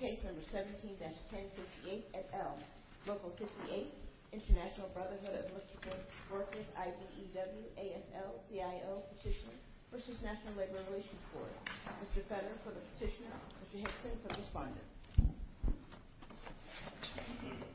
Case No. 17-1058 at Elm, Local 58, International Brotherhood of Michigan Workers IBEW AFL-CIO Petition vs. National Labor Relations Board Mr. Federer for the petitioner, Mr. Hickson for the respondent Petition vs. National Labor Relations Board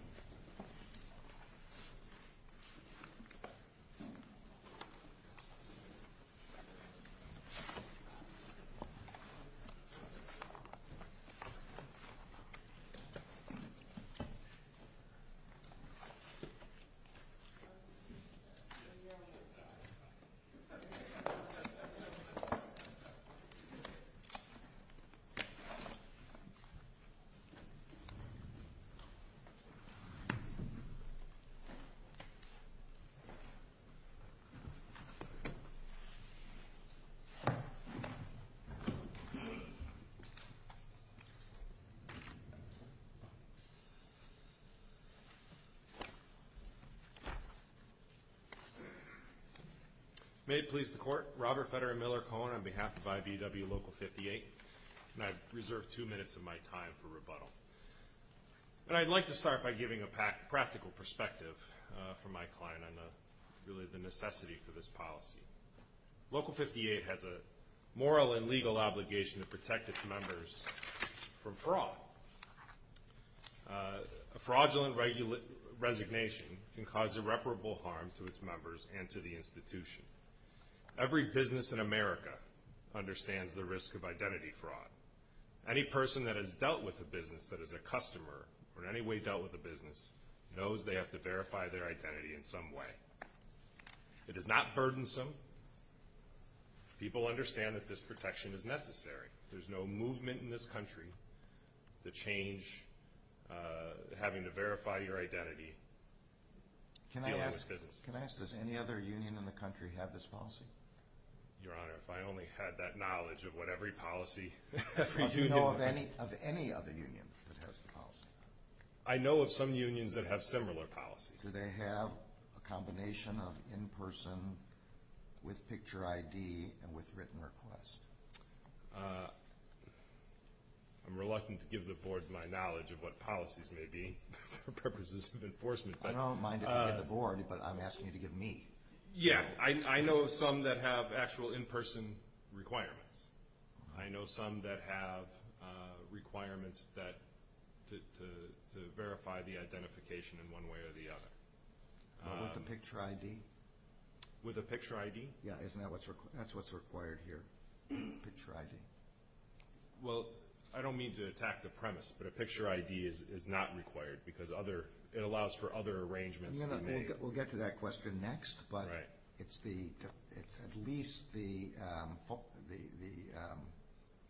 May it please the Court, Robert Federer Miller Cohen on behalf of IBEW Local 58, and I reserve two minutes of my time for rebuttal. And I'd like to start by giving a practical perspective from my client on the necessity for this policy. Local 58 has a moral and legal obligation to protect its members from fraud. A fraudulent resignation can cause irreparable harm to its members and to the institution. Every business in America understands the risk of identity fraud. Any person that has dealt with a business that is a customer, or in any way dealt with a business, knows they have to verify their identity in some way. It is not burdensome. People understand that this protection is necessary. There's no movement in this country to change having to verify your identity dealing with businesses. Can I ask, does any other union in the country have this policy? Your Honor, if I only had that knowledge of what every policy, every union... Do you know of any other union that has the policy? I know of some unions that have similar policies. Do they have a combination of in-person with picture ID and with written request? I'm reluctant to give the Board my knowledge of what policies may be for purposes of enforcement. I don't mind if you give the Board, but I'm asking you to give me. Yeah, I know of some that have actual in-person requirements. I know some that have requirements to verify the identification in one way or the other. With a picture ID? With a picture ID? Yeah, isn't that what's required here? Picture ID. Well, I don't mean to attack the premise, but a picture ID is not required because it allows for other arrangements to be made. We'll get to that question next, but it's at least the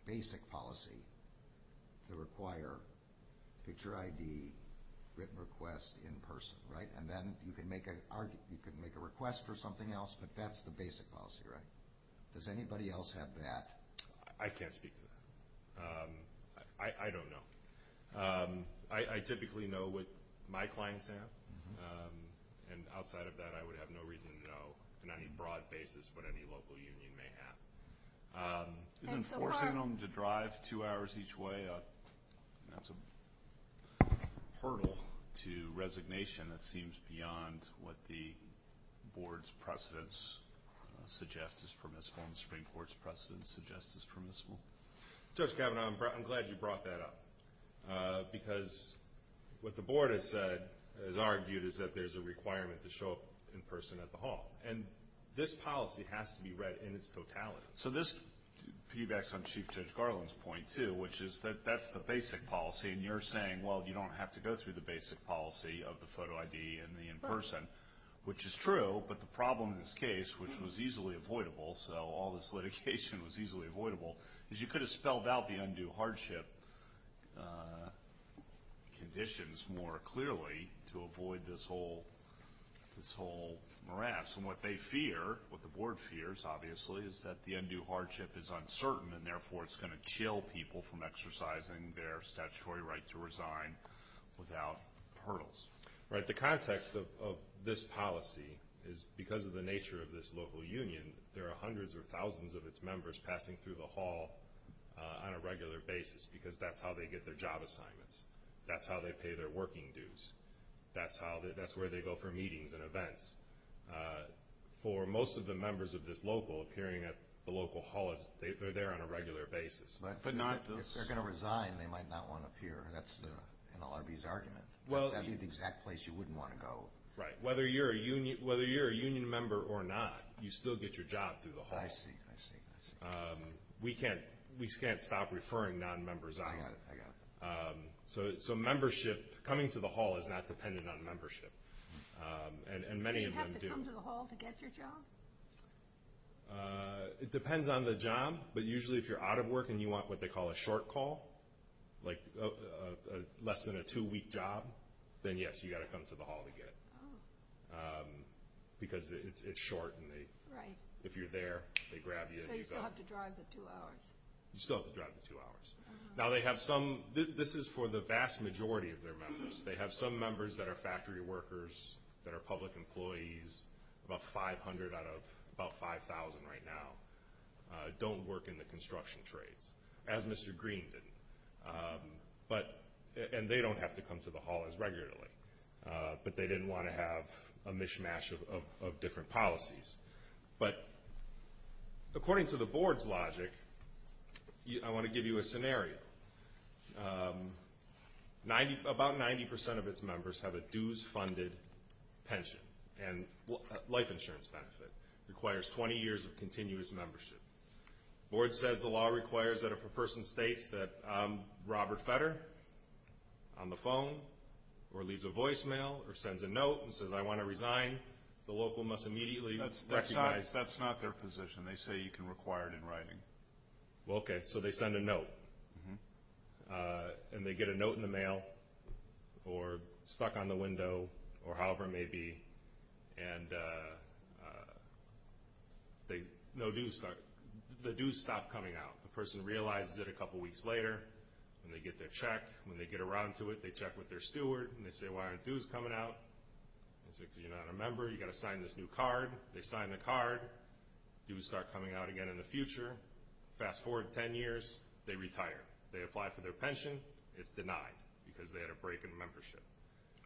basic policy to require picture ID, written request in person, right? And then you can make a request for something else, but that's the basic policy, right? Does anybody else have that? I can't speak to that. I don't know. I typically know what my clients have, and outside of that, I would have no reason to know on any broad basis what any local union may have. Enforcing them to drive two hours each way, that's a hurdle to resignation. It seems beyond what the Board's precedents suggest is permissible and the Supreme Court's precedents suggest is permissible. Judge Kavanaugh, I'm glad you brought that up because what the Board has argued is that there's a requirement to show up in person at the hall, and this policy has to be read in its totality. So this piggybacks on Chief Judge Garland's point, too, which is that that's the basic policy, and you're saying, well, you don't have to go through the basic policy of the photo ID and the in person, which is true, but the problem in this case, which was easily avoidable, so all this litigation was easily avoidable, is you could have spelled out the undue hardship conditions more clearly to avoid this whole morass. And what they fear, what the Board fears, obviously, is that the undue hardship is uncertain, and therefore it's going to chill people from exercising their statutory right to resign without hurdles. Right. The context of this policy is because of the nature of this local union, there are hundreds or thousands of its members passing through the hall on a regular basis because that's how they get their job assignments. That's how they pay their working dues. That's where they go for meetings and events. For most of the members of this local appearing at the local hall, they're there on a regular basis. But if they're going to resign, they might not want to appear. That's NLRB's argument. That would be the exact place you wouldn't want to go. Right. Whether you're a union member or not, you still get your job through the hall. I see. I see. I see. We can't stop referring non-members out. I got it. I got it. So membership, coming to the hall is not dependent on membership, and many of them do. Do you have to come to the hall to get your job? It depends on the job, but usually if you're out of work and you want what they call a short call, like less than a two-week job, then, yes, you've got to come to the hall to get it because it's short. Right. If you're there, they grab you and you go. So you still have to drive the two hours. You still have to drive the two hours. This is for the vast majority of their members. They have some members that are factory workers, that are public employees, about 500 out of about 5,000 right now, don't work in the construction trades, as Mr. Green didn't. And they don't have to come to the hall as regularly, but they didn't want to have a mishmash of different policies. But according to the board's logic, I want to give you a scenario. About 90% of its members have a dues-funded pension and life insurance benefit, requires 20 years of continuous membership. The board says the law requires that if a person states that I'm Robert Fetter on the phone or leaves a voicemail or sends a note and says I want to resign, the local must immediately recognize. That's not their position. They say you can require it in writing. Okay. So they send a note. And they get a note in the mail or stuck on the window or however it may be, and the dues stop coming out. The person realizes it a couple weeks later, and they get their check. When they get around to it, they check with their steward, and they say why aren't dues coming out? They say because you're not a member, you've got to sign this new card. They sign the card. Dues start coming out again in the future. Fast forward 10 years, they retire. They apply for their pension. It's denied because they had a break in membership.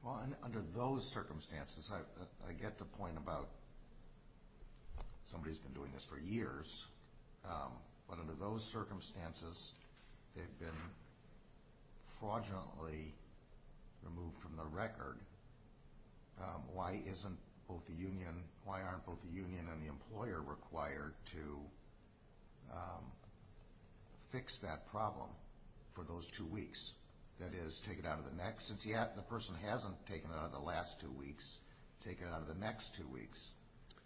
Well, under those circumstances, I get the point about somebody who's been doing this for years, but under those circumstances, they've been fraudulently removed from the record. Why aren't both the union and the employer required to fix that problem for those two weeks? That is, since the person hasn't taken it out of the last two weeks, take it out of the next two weeks.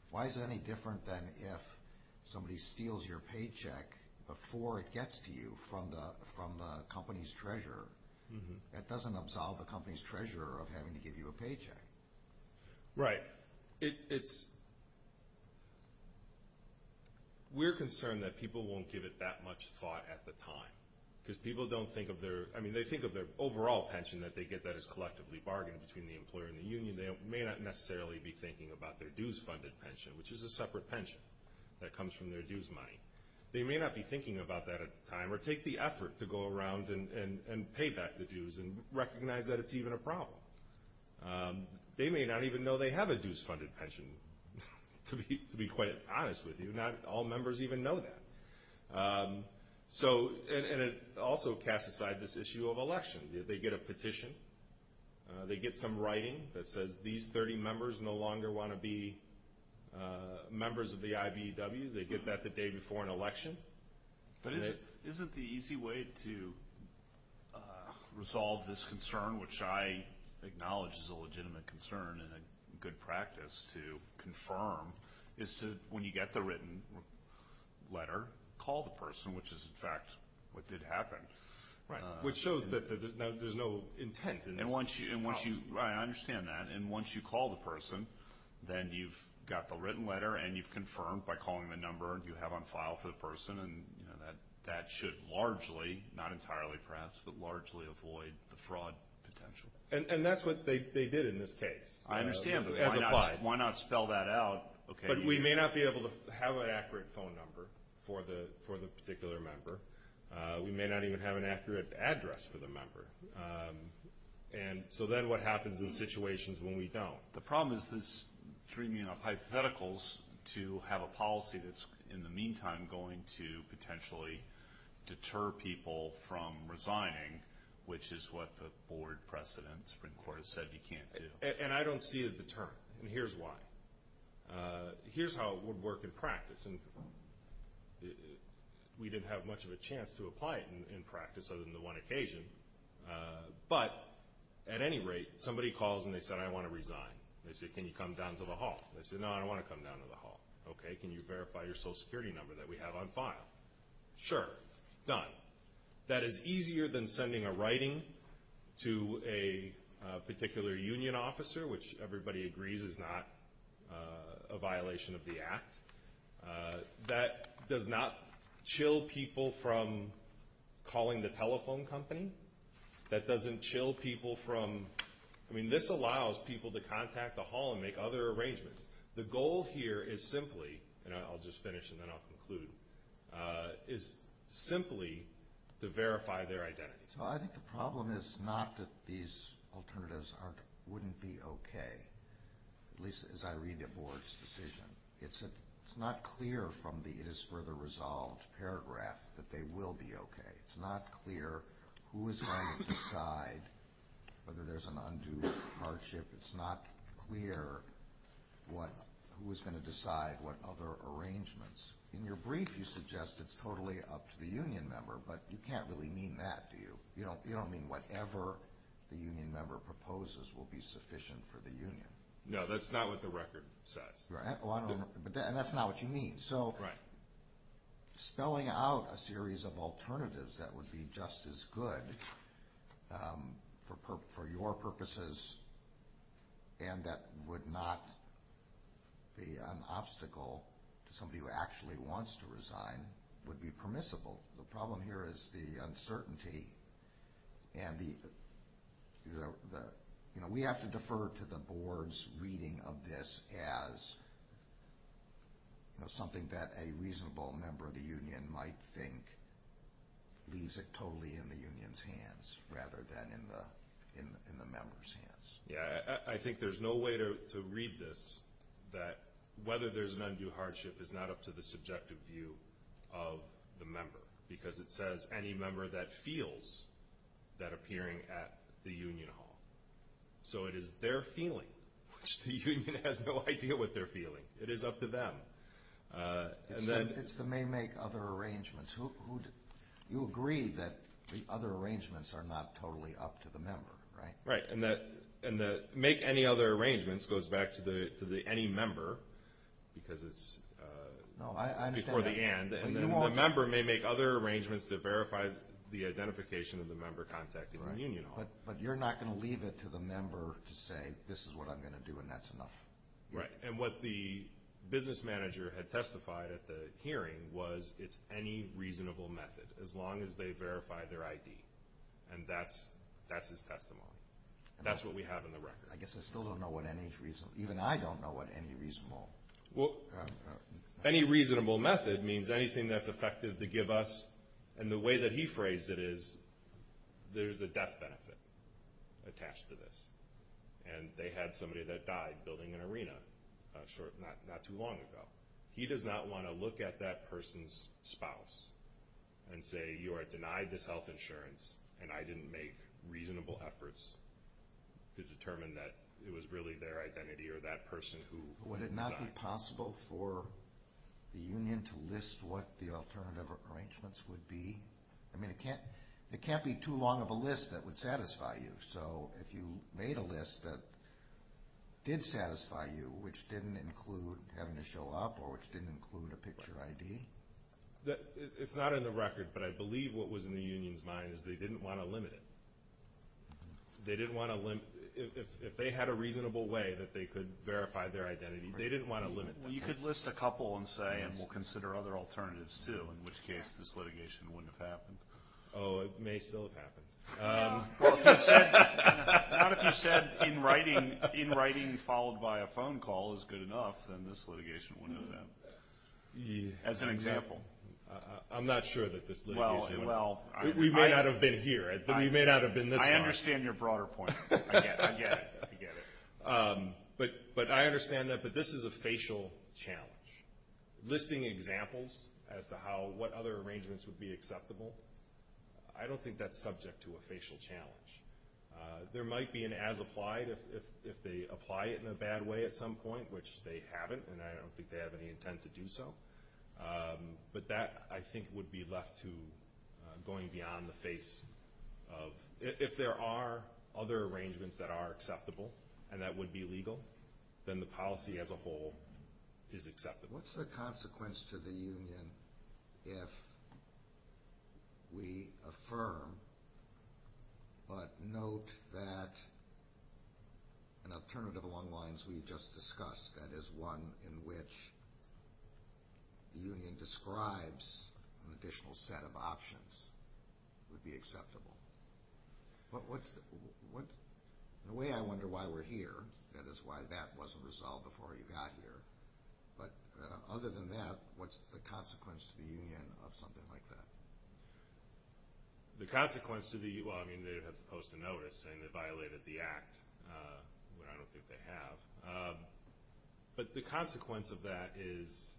Why is it any different than if somebody steals your paycheck before it gets to you from the company's treasurer? That doesn't absolve the company's treasurer of having to give you a paycheck. Right. We're concerned that people won't give it that much thought at the time, because people don't think of their – I mean, they think of their overall pension that they get that is collectively bargained between the employer and the union. They may not necessarily be thinking about their dues-funded pension, which is a separate pension that comes from their dues money. They may not be thinking about that at the time or take the effort to go around and pay back the dues and recognize that it's even a problem. They may not even know they have a dues-funded pension, to be quite honest with you. Not all members even know that. So – and it also casts aside this issue of election. They get a petition. They get some writing that says these 30 members no longer want to be members of the IBEW. They get that the day before an election. But isn't the easy way to resolve this concern, which I acknowledge is a legitimate concern and a good practice to confirm, is to, when you get the written letter, call the person, which is, in fact, what did happen. Right, which shows that there's no intent in this. And once you – right, I understand that. And once you call the person, then you've got the written letter, and you've confirmed by calling the number you have on file for the person, and that should largely, not entirely perhaps, but largely avoid the fraud potential. And that's what they did in this case. I understand, but why not spell that out? But we may not be able to have an accurate phone number for the particular member. We may not even have an accurate address for the member. And so then what happens in situations when we don't? The problem is this dreaming up hypotheticals to have a policy that's, in the meantime, going to potentially deter people from resigning, which is what the board precedent in the Supreme Court has said you can't do. And I don't see it deterring. And here's why. Here's how it would work in practice. And we didn't have much of a chance to apply it in practice other than the one occasion. But at any rate, somebody calls and they said, I want to resign. They said, can you come down to the hall? They said, no, I don't want to come down to the hall. Okay, can you verify your Social Security number that we have on file? Sure. Done. That is easier than sending a writing to a particular union officer, which everybody agrees is not a violation of the Act. That does not chill people from calling the telephone company. That doesn't chill people from, I mean, this allows people to contact the hall and make other arrangements. The goal here is simply, and I'll just finish and then I'll conclude, is simply to verify their identity. So I think the problem is not that these alternatives wouldn't be okay, at least as I read the Board's decision. It's not clear from the it is further resolved paragraph that they will be okay. It's not clear who is going to decide whether there's an undue hardship. It's not clear who is going to decide what other arrangements. In your brief, you suggest it's totally up to the union member, but you can't really mean that, do you? You don't mean whatever the union member proposes will be sufficient for the union. No, that's not what the record says. And that's not what you mean. So spelling out a series of alternatives that would be just as good for your purposes and that would not be an obstacle to somebody who actually wants to resign would be permissible. The problem here is the uncertainty and we have to defer to the Board's reading of this as something that a reasonable member of the union might think leaves it totally in the union's hands rather than in the member's hands. Yeah, I think there's no way to read this that whether there's an undue hardship is not up to the subjective view of the member because it says any member that feels that appearing at the union hall. So it is their feeling, which the union has no idea what they're feeling. It is up to them. It's the may make other arrangements. You agree that the other arrangements are not totally up to the member, right? Right, and the make any other arrangements goes back to the any member because it's before the and, and the member may make other arrangements to verify the identification of the member contacting the union hall. But you're not going to leave it to the member to say this is what I'm going to do and that's enough. Right, and what the business manager had testified at the hearing was it's any reasonable method as long as they verify their ID, and that's his testimony. That's what we have in the record. I guess I still don't know what any reasonable, even I don't know what any reasonable. Well, any reasonable method means anything that's effective to give us, and the way that he phrased it is there's a death benefit attached to this. And they had somebody that died building an arena not too long ago. He does not want to look at that person's spouse and say you are denied this health insurance and I didn't make reasonable efforts to determine that it was really their identity or that person who died. Would it not be possible for the union to list what the alternative arrangements would be? I mean, it can't be too long of a list that would satisfy you. So if you made a list that did satisfy you, which didn't include having to show up or which didn't include a picture ID. It's not in the record, but I believe what was in the union's mind is they didn't want to limit it. They didn't want to limit it. If they had a reasonable way that they could verify their identity, they didn't want to limit that. Well, you could list a couple and say, and we'll consider other alternatives too, in which case this litigation wouldn't have happened. Oh, it may still have happened. Well, if you said in writing followed by a phone call is good enough, then this litigation wouldn't have happened. As an example. I'm not sure that this litigation would have happened. We may not have been here. We may not have been this far. I understand your broader point. I get it. I get it. But I understand that. But this is a facial challenge. Listing examples as to what other arrangements would be acceptable, I don't think that's subject to a facial challenge. There might be an as applied if they apply it in a bad way at some point, which they haven't, and I don't think they have any intent to do so. But that, I think, would be left to going beyond the face of – if there are other arrangements that are acceptable and that would be legal, then the policy as a whole is acceptable. What's the consequence to the union if we affirm but note that an alternative along the lines we just discussed, that is one in which the union describes an additional set of options, would be acceptable? In a way, I wonder why we're here. That is why that wasn't resolved before you got here. But other than that, what's the consequence to the union of something like that? The consequence to the union, well, I mean, they would have to post a notice saying they violated the act, which I don't think they have. But the consequence of that is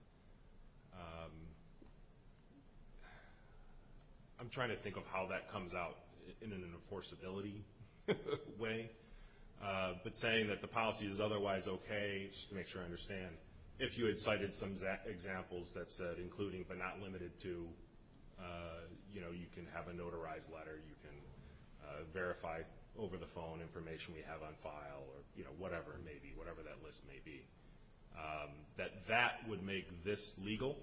– I'm trying to think of how that comes out in an enforceability way. But saying that the policy is otherwise okay, just to make sure I understand, if you had cited some examples that said including but not limited to, you know, you can have a notarized letter, you can verify over the phone information we have on file, or whatever it may be, whatever that list may be, that that would make this legal?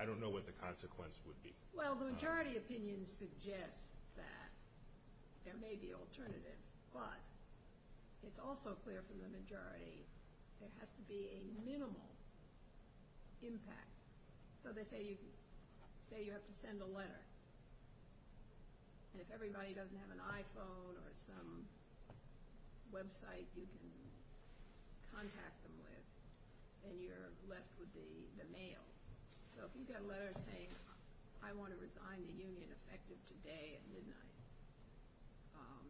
I don't know what the consequence would be. Well, the majority opinion suggests that there may be alternatives, but it's also clear from the majority there has to be a minimal impact. So they say you have to send a letter. And if everybody doesn't have an iPhone or some website you can contact them with, then you're left with the mails. So if you've got a letter saying I want to resign the union effective today at midnight,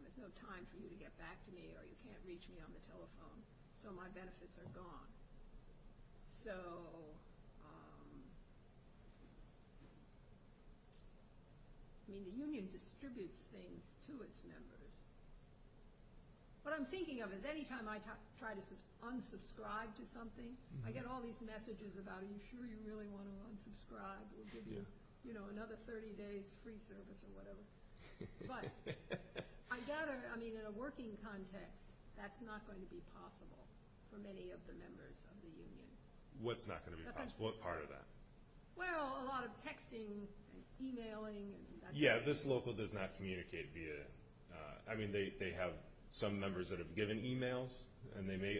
there's no time for you to get back to me or you can't reach me on the telephone, so my benefits are gone. So, I mean, the union distributes things to its members. What I'm thinking of is anytime I try to unsubscribe to something, I get all these messages about, are you sure you really want to unsubscribe? We'll give you another 30 days free service or whatever. But I gather, I mean, in a working context, that's not going to be possible for many of the members of the union. What's not going to be possible? What part of that? Well, a lot of texting and emailing. Yeah, this local does not communicate via, I mean, they have some members that have given emails, and they may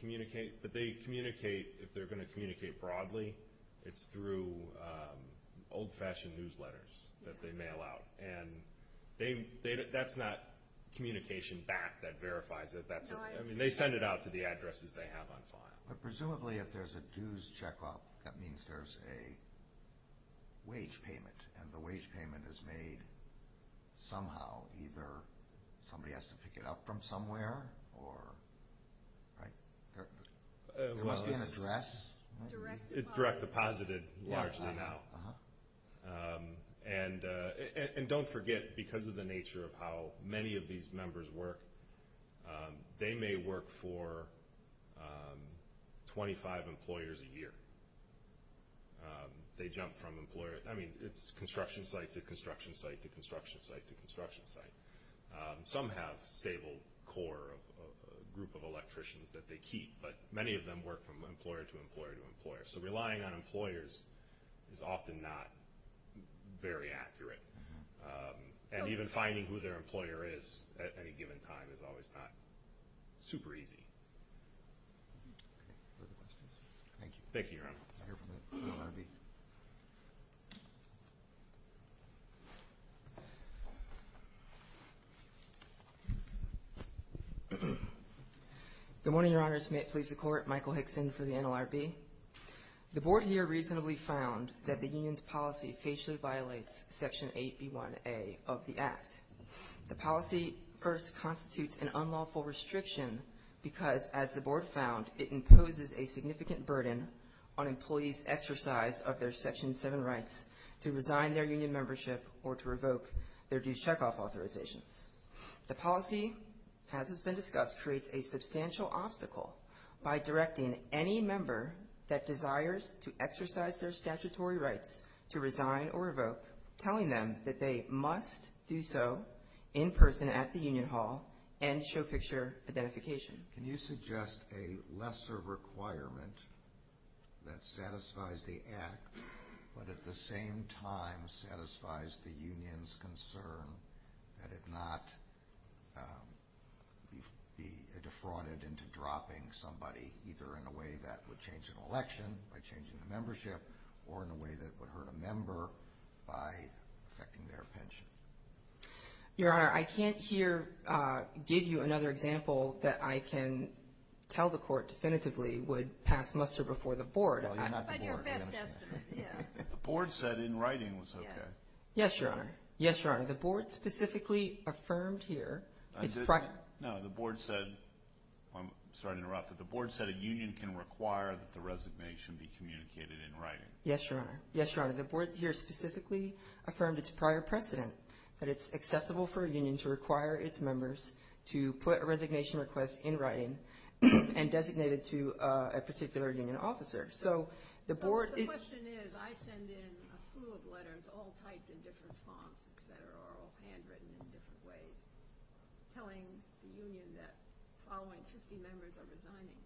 communicate, but they communicate, if they're going to communicate broadly, it's through old-fashioned newsletters that they mail out. And that's not communication back that verifies it. I mean, they send it out to the addresses they have on file. But presumably if there's a dues check-off, that means there's a wage payment, and the wage payment is made somehow, either somebody has to pick it up from somewhere, or, right? There must be an address. It's direct deposited largely now. And don't forget, because of the nature of how many of these members work, they may work for 25 employers a year. They jump from employer, I mean, it's construction site to construction site to construction site to construction site. Some have stable core group of electricians that they keep, but many of them work from employer to employer to employer. So relying on employers is often not very accurate. And even finding who their employer is at any given time is always not super easy. Okay. Further questions? Thank you. Thank you, Your Honor. I'll hear from the NLRB. Good morning, Your Honors. May it please the Court, Michael Hickson for the NLRB. The Board here reasonably found that the union's policy facially violates Section 8B1A of the Act. The policy first constitutes an unlawful restriction because, as the Board found, it imposes a significant burden on employees' exercise of their Section 7 rights to resign their union membership or to revoke their due checkoff authorizations. The policy, as has been discussed, creates a substantial obstacle by directing any member that desires to exercise their statutory rights to resign or revoke, telling them that they must do so in person at the union hall and show picture identification. Can you suggest a lesser requirement that satisfies the Act, but at the same time satisfies the union's concern that it not be defrauded into dropping somebody, either in a way that would change an election by changing the membership or in a way that would hurt a member by affecting their pension? Your Honor, I can't here give you another example that I can tell the Court definitively would pass muster before the Board. Well, you're not the Board. The Board said in writing was okay. Yes, Your Honor. Yes, Your Honor. The Board specifically affirmed here. No, the Board said, I'm sorry to interrupt, but the Board said a union can require that the resignation be communicated in writing. Yes, Your Honor. Yes, Your Honor. The Board here specifically affirmed its prior precedent, that it's acceptable for a union to require its members to put a resignation request in writing and designate it to a particular union officer. So the question is, I send in a slew of letters, all typed in different fonts, et cetera, all handwritten in different ways, telling the union that the following 50 members are resigning.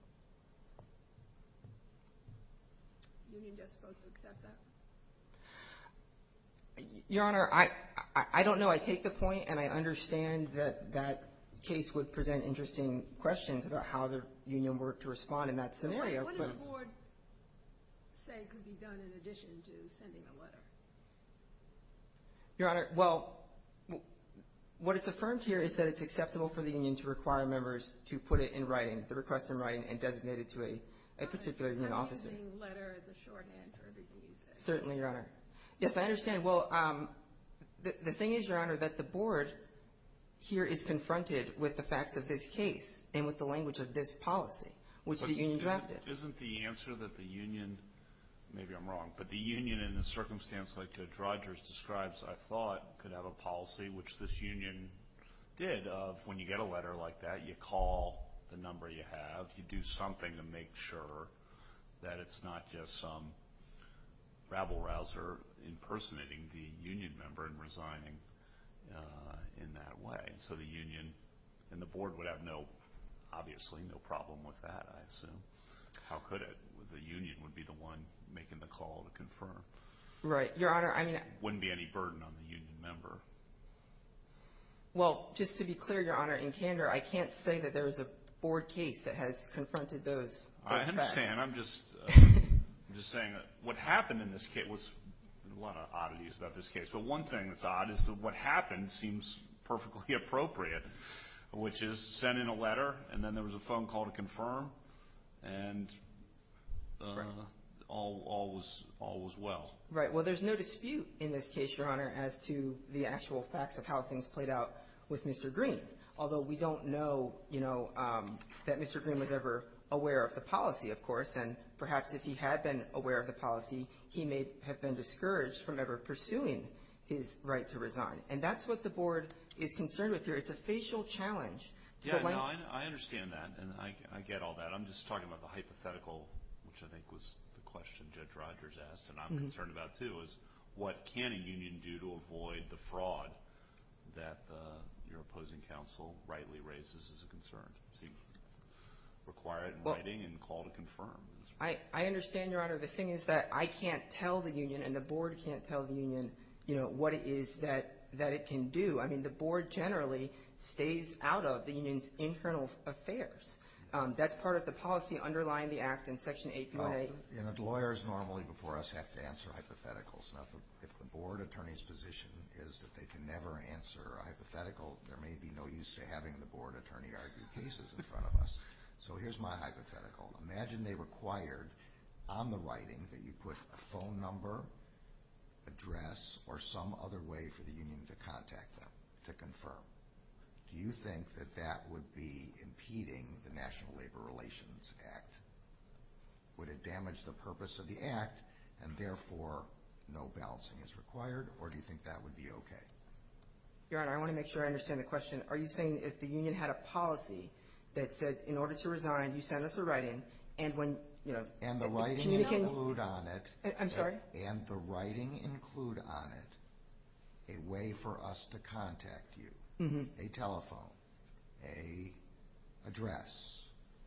Is the union just supposed to accept that? Your Honor, I don't know. I take the point, and I understand that that case would present interesting questions about how the union were to respond in that scenario. What did the Board say could be done in addition to sending a letter? Your Honor, well, what is affirmed here is that it's acceptable for the union to require members to put it in writing, the request in writing, and designate it to a particular union officer. I'm using letter as a shorthand for the reason. Certainly, Your Honor. Yes, I understand. Well, the thing is, Your Honor, that the Board here is confronted with the facts of this case and with the language of this policy, which the union drafted. Well, it isn't the answer that the union, maybe I'm wrong, but the union in the circumstance like Judge Rogers describes, I thought, could have a policy, which this union did, of when you get a letter like that, you call the number you have, you do something to make sure that it's not just some rabble-rouser impersonating the union member and resigning in that way. And so the union and the Board would have no, obviously, no problem with that, I assume. How could it? The union would be the one making the call to confirm. Right. Your Honor, I mean. It wouldn't be any burden on the union member. Well, just to be clear, Your Honor, in candor, I can't say that there is a Board case that has confronted those facts. I understand. I'm just saying that what happened in this case was a lot of oddities about this case. The one thing that's odd is that what happened seems perfectly appropriate, which is send in a letter, and then there was a phone call to confirm, and all was well. Right. Well, there's no dispute in this case, Your Honor, as to the actual facts of how things played out with Mr. Green, although we don't know, you know, that Mr. Green was ever aware of the policy, of course, and perhaps if he had been aware of the policy, he may have been discouraged from ever pursuing his right to resign. And that's what the Board is concerned with here. It's a facial challenge. Yeah, no, I understand that, and I get all that. I'm just talking about the hypothetical, which I think was the question Judge Rogers asked, and I'm concerned about, too, is what can a union do to avoid the fraud that your opposing counsel rightly raises as a concern? Require it in writing and call to confirm. I understand, Your Honor. The thing is that I can't tell the union and the Board can't tell the union, you know, what it is that it can do. I mean, the Board generally stays out of the union's internal affairs. That's part of the policy underlying the act in Section 8.1a. You know, lawyers normally before us have to answer hypotheticals. If the Board attorney's position is that they can never answer a hypothetical, there may be no use to having the Board attorney argue cases in front of us. So here's my hypothetical. Imagine they required on the writing that you put a phone number, address, or some other way for the union to contact them to confirm. Do you think that that would be impeding the National Labor Relations Act? Would it damage the purpose of the act and, therefore, no balancing is required, or do you think that would be okay? Your Honor, I want to make sure I understand the question. Are you saying if the union had a policy that said, in order to resign, you send us a writing, and when, you know— And the writing include on it— I'm sorry? And the writing include on it a way for us to contact you, a telephone, an address,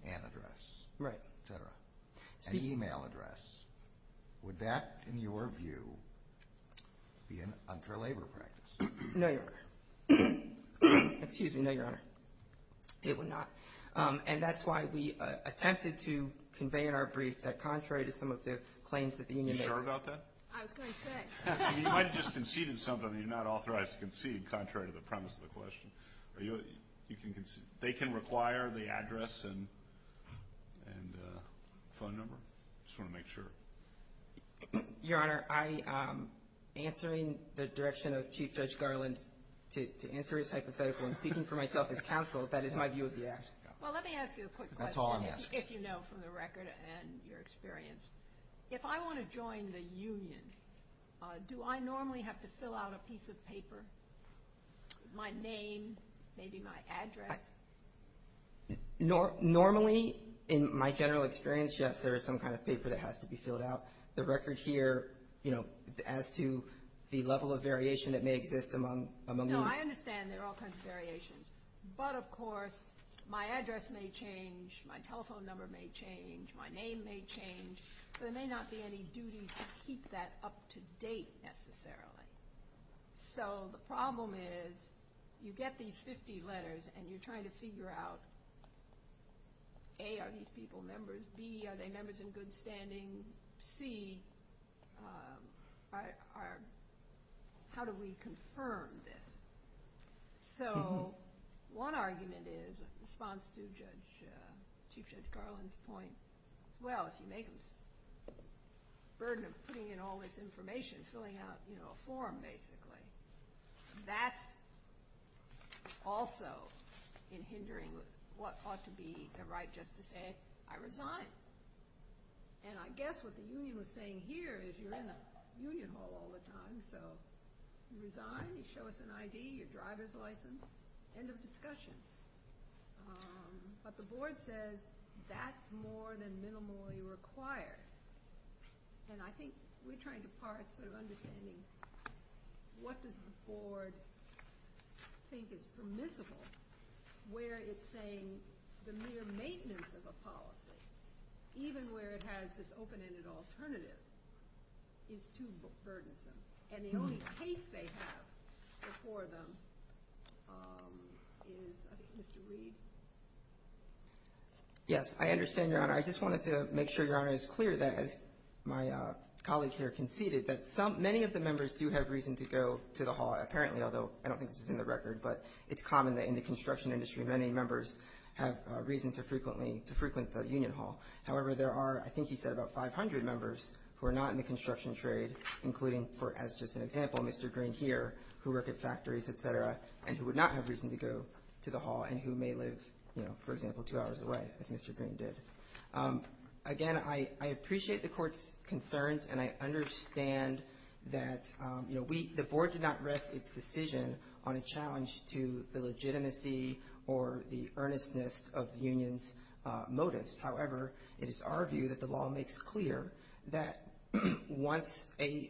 an address, et cetera, an email address. Would that, in your view, be an unfair labor practice? No, Your Honor. Excuse me. No, Your Honor. It would not. And that's why we attempted to convey in our brief that contrary to some of the claims that the union makes— Are you sure about that? I was going to say. You might have just conceded something that you're not authorized to concede, contrary to the premise of the question. They can require the address and phone number. I just want to make sure. Your Honor, I am answering the direction of Chief Judge Garland to answer his hypothetical. I'm speaking for myself as counsel. That is my view of the act. Well, let me ask you a quick question— That's all I'm asking. —if you know from the record and your experience. If I want to join the union, do I normally have to fill out a piece of paper? My name, maybe my address? Normally, in my general experience, yes, there is some kind of paper that has to be filled out. The record here, you know, as to the level of variation that may exist among— No, I understand there are all kinds of variations. But, of course, my address may change, my telephone number may change, my name may change, so there may not be any duty to keep that up to date, necessarily. So the problem is you get these 50 letters and you're trying to figure out, A, are these people members? B, are they members in good standing? C, how do we confirm this? So one argument is, in response to Chief Judge Garland's point, well, if you make them a burden of putting in all this information, filling out a form, basically, that's also in hindering what ought to be a right just to say, I resign. And I guess what the union was saying here is you're in a union hall all the time, so you resign, you show us an ID, your driver's license, end of discussion. But the board says that's more than minimally required. And I think we're trying to parse sort of understanding what does the board think is permissible where it's saying the mere maintenance of a policy, even where it has this open-ended alternative, is too burdensome. And the only case they have before them is, I think, Mr. Reed. Yes, I understand, Your Honor. I just wanted to make sure, Your Honor, it's clear that, as my colleague here conceded, that many of the members do have reason to go to the hall, apparently, although I don't think this is in the record, but it's common that in the construction industry, many members have reason to frequent the union hall. However, there are, I think you said, about 500 members who are not in the construction trade, including, as just an example, Mr. Green here, who work at factories, et cetera, and who would not have reason to go to the hall and who may live, for example, two hours away, as Mr. Green did. Again, I appreciate the court's concerns, and I understand that the board did not rest its decision on a challenge to the legitimacy or the earnestness of the union's motives. However, it is our view that the law makes clear that once a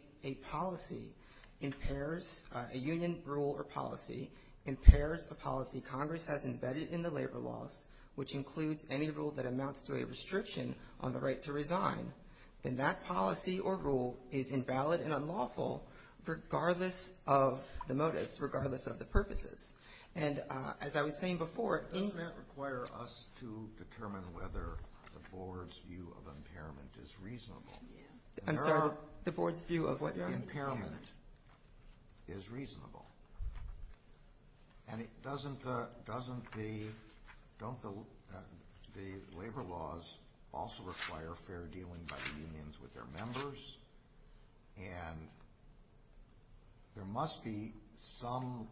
policy impairs, a union rule or policy impairs a policy Congress has embedded in the labor laws, which includes any rule that amounts to a restriction on the right to resign, then that policy or rule is invalid and unlawful regardless of the motives, regardless of the purposes. And as I was saying before, it doesn't require us to determine whether the board's view of impairment is reasonable. I'm sorry, the board's view of what? Impairment is reasonable. And doesn't the labor laws also require fair dealing by the unions with their members? And there must be some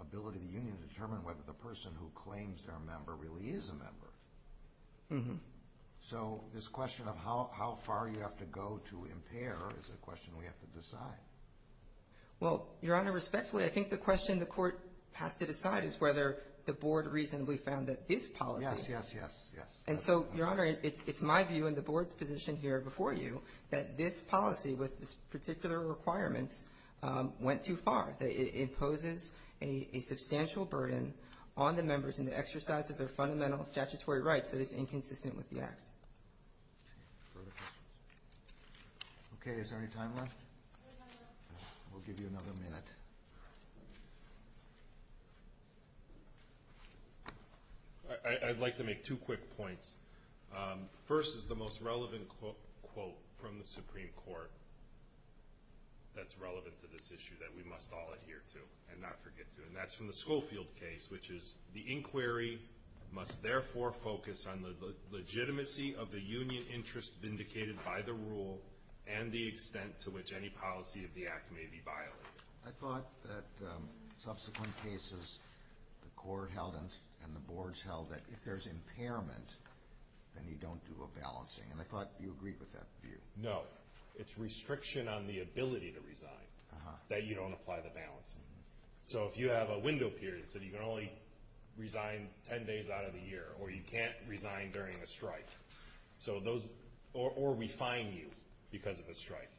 ability of the union to determine whether the person who claims they're a member really is a member. So this question of how far you have to go to impair is a question we have to decide. Well, Your Honor, respectfully, I think the question the court has to decide is whether the board reasonably found that this policy. Yes, yes, yes, yes. And so, Your Honor, it's my view and the board's position here before you that this policy, with this particular requirements, went too far. It poses a substantial burden on the members in the exercise of their fundamental statutory rights that is inconsistent with the Act. Further questions? Okay, is there any time left? We'll give you another minute. I'd like to make two quick points. First is the most relevant quote from the Supreme Court that's relevant to this issue that we must all adhere to and not forget to, and that's from the Schofield case, which is the inquiry must therefore focus on the legitimacy of the union interest vindicated by the rule and the extent to which any policy of the Act may be violated. I thought that subsequent cases, the court held and the boards held that if there's impairment, then you don't do a balancing, and I thought you agreed with that view. No. It's restriction on the ability to resign, that you don't apply the balancing. So if you have a window period, so you can only resign 10 days out of the year, or you can't resign during a strike, or we fine you because of a strike.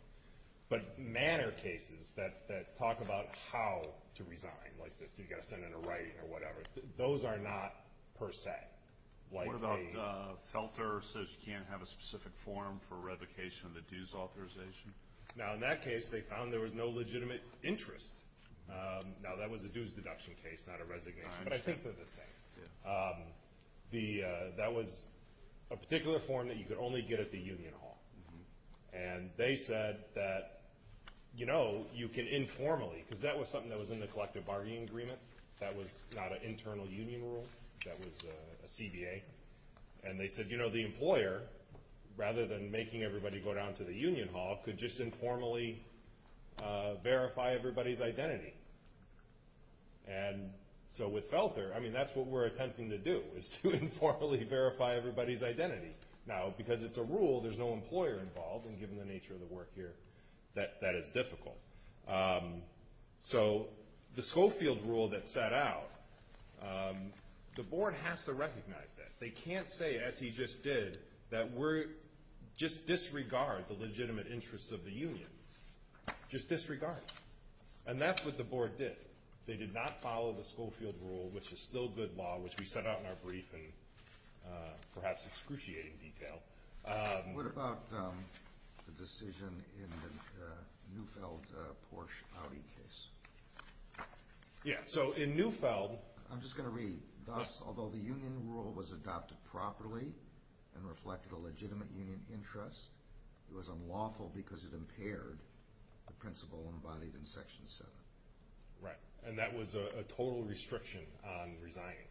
But manner cases that talk about how to resign, like this, you've got to send in a writing or whatever, those are not per se. What about Felter says you can't have a specific form for revocation of the dues authorization? Now, in that case, they found there was no legitimate interest. Now, that was a dues deduction case, not a resignation, but I think they're the same. That was a particular form that you could only get at the union hall, and they said that, you know, you can informally, because that was something that was in the collective bargaining agreement. That was not an internal union rule. That was a CBA, and they said, you know, the employer, rather than making everybody go down to the union hall, could just informally verify everybody's identity. And so with Felter, I mean, that's what we're attempting to do, is to informally verify everybody's identity. Now, because it's a rule, there's no employer involved, and given the nature of the work here, that is difficult. So the Schofield rule that set out, the board has to recognize that. They can't say, as he just did, that we're just disregard the legitimate interests of the union. Just disregard. And that's what the board did. They did not follow the Schofield rule, which is still good law, which we set out in our brief in perhaps excruciating detail. What about the decision in the Neufeld-Porsche-Audi case? Yeah, so in Neufeld— I'm just going to read. Thus, although the union rule was adopted properly and reflected a legitimate union interest, it was unlawful because it impaired the principle embodied in Section 7. Right. And that was a total restriction on resigning.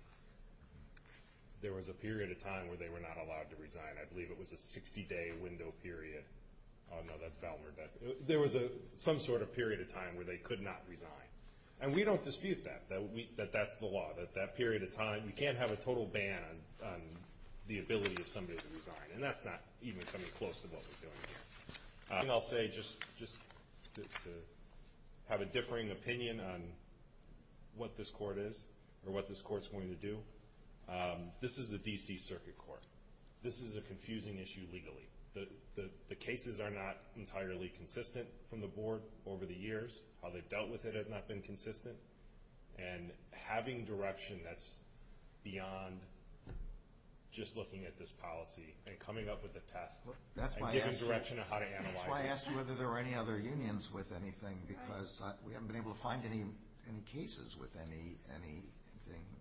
There was a period of time where they were not allowed to resign. I believe it was a 60-day window period. Oh, no, that's Balmer. There was some sort of period of time where they could not resign. And we don't dispute that, that that's the law, that that period of time— we can't have a total ban on the ability of somebody to resign, and that's not even coming close to what we're doing here. And I'll say, just to have a differing opinion on what this court is or what this court's going to do, this is the D.C. Circuit Court. This is a confusing issue legally. The cases are not entirely consistent from the board over the years. How they've dealt with it has not been consistent. And having direction that's beyond just looking at this policy and coming up with a test— That's why I asked you whether there were any other unions with anything because we haven't been able to find any cases with anything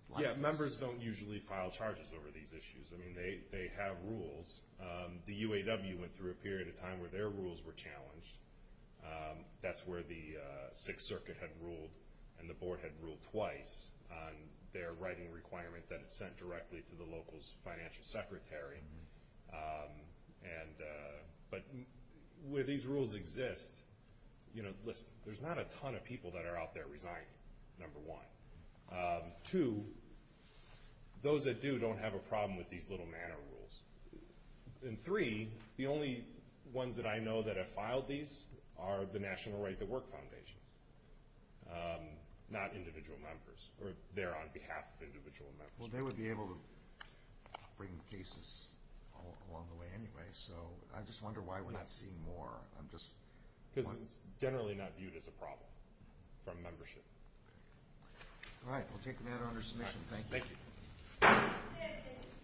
like this. Yeah, members don't usually file charges over these issues. I mean, they have rules. The UAW went through a period of time where their rules were challenged. That's where the Sixth Circuit had ruled and the board had ruled twice on their writing requirement that it sent directly to the local's financial secretary. But where these rules exist, you know, listen, there's not a ton of people that are out there resigning, number one. Two, those that do don't have a problem with these little manner rules. And three, the only ones that I know that have filed these are the National Right to Work Foundation, not individual members, or they're on behalf of individual members. Well, they would be able to bring cases along the way anyway, so I just wonder why we're not seeing more. Because it's generally not viewed as a problem from membership. All right, we'll take the matter under submission. Thank you. Thank you.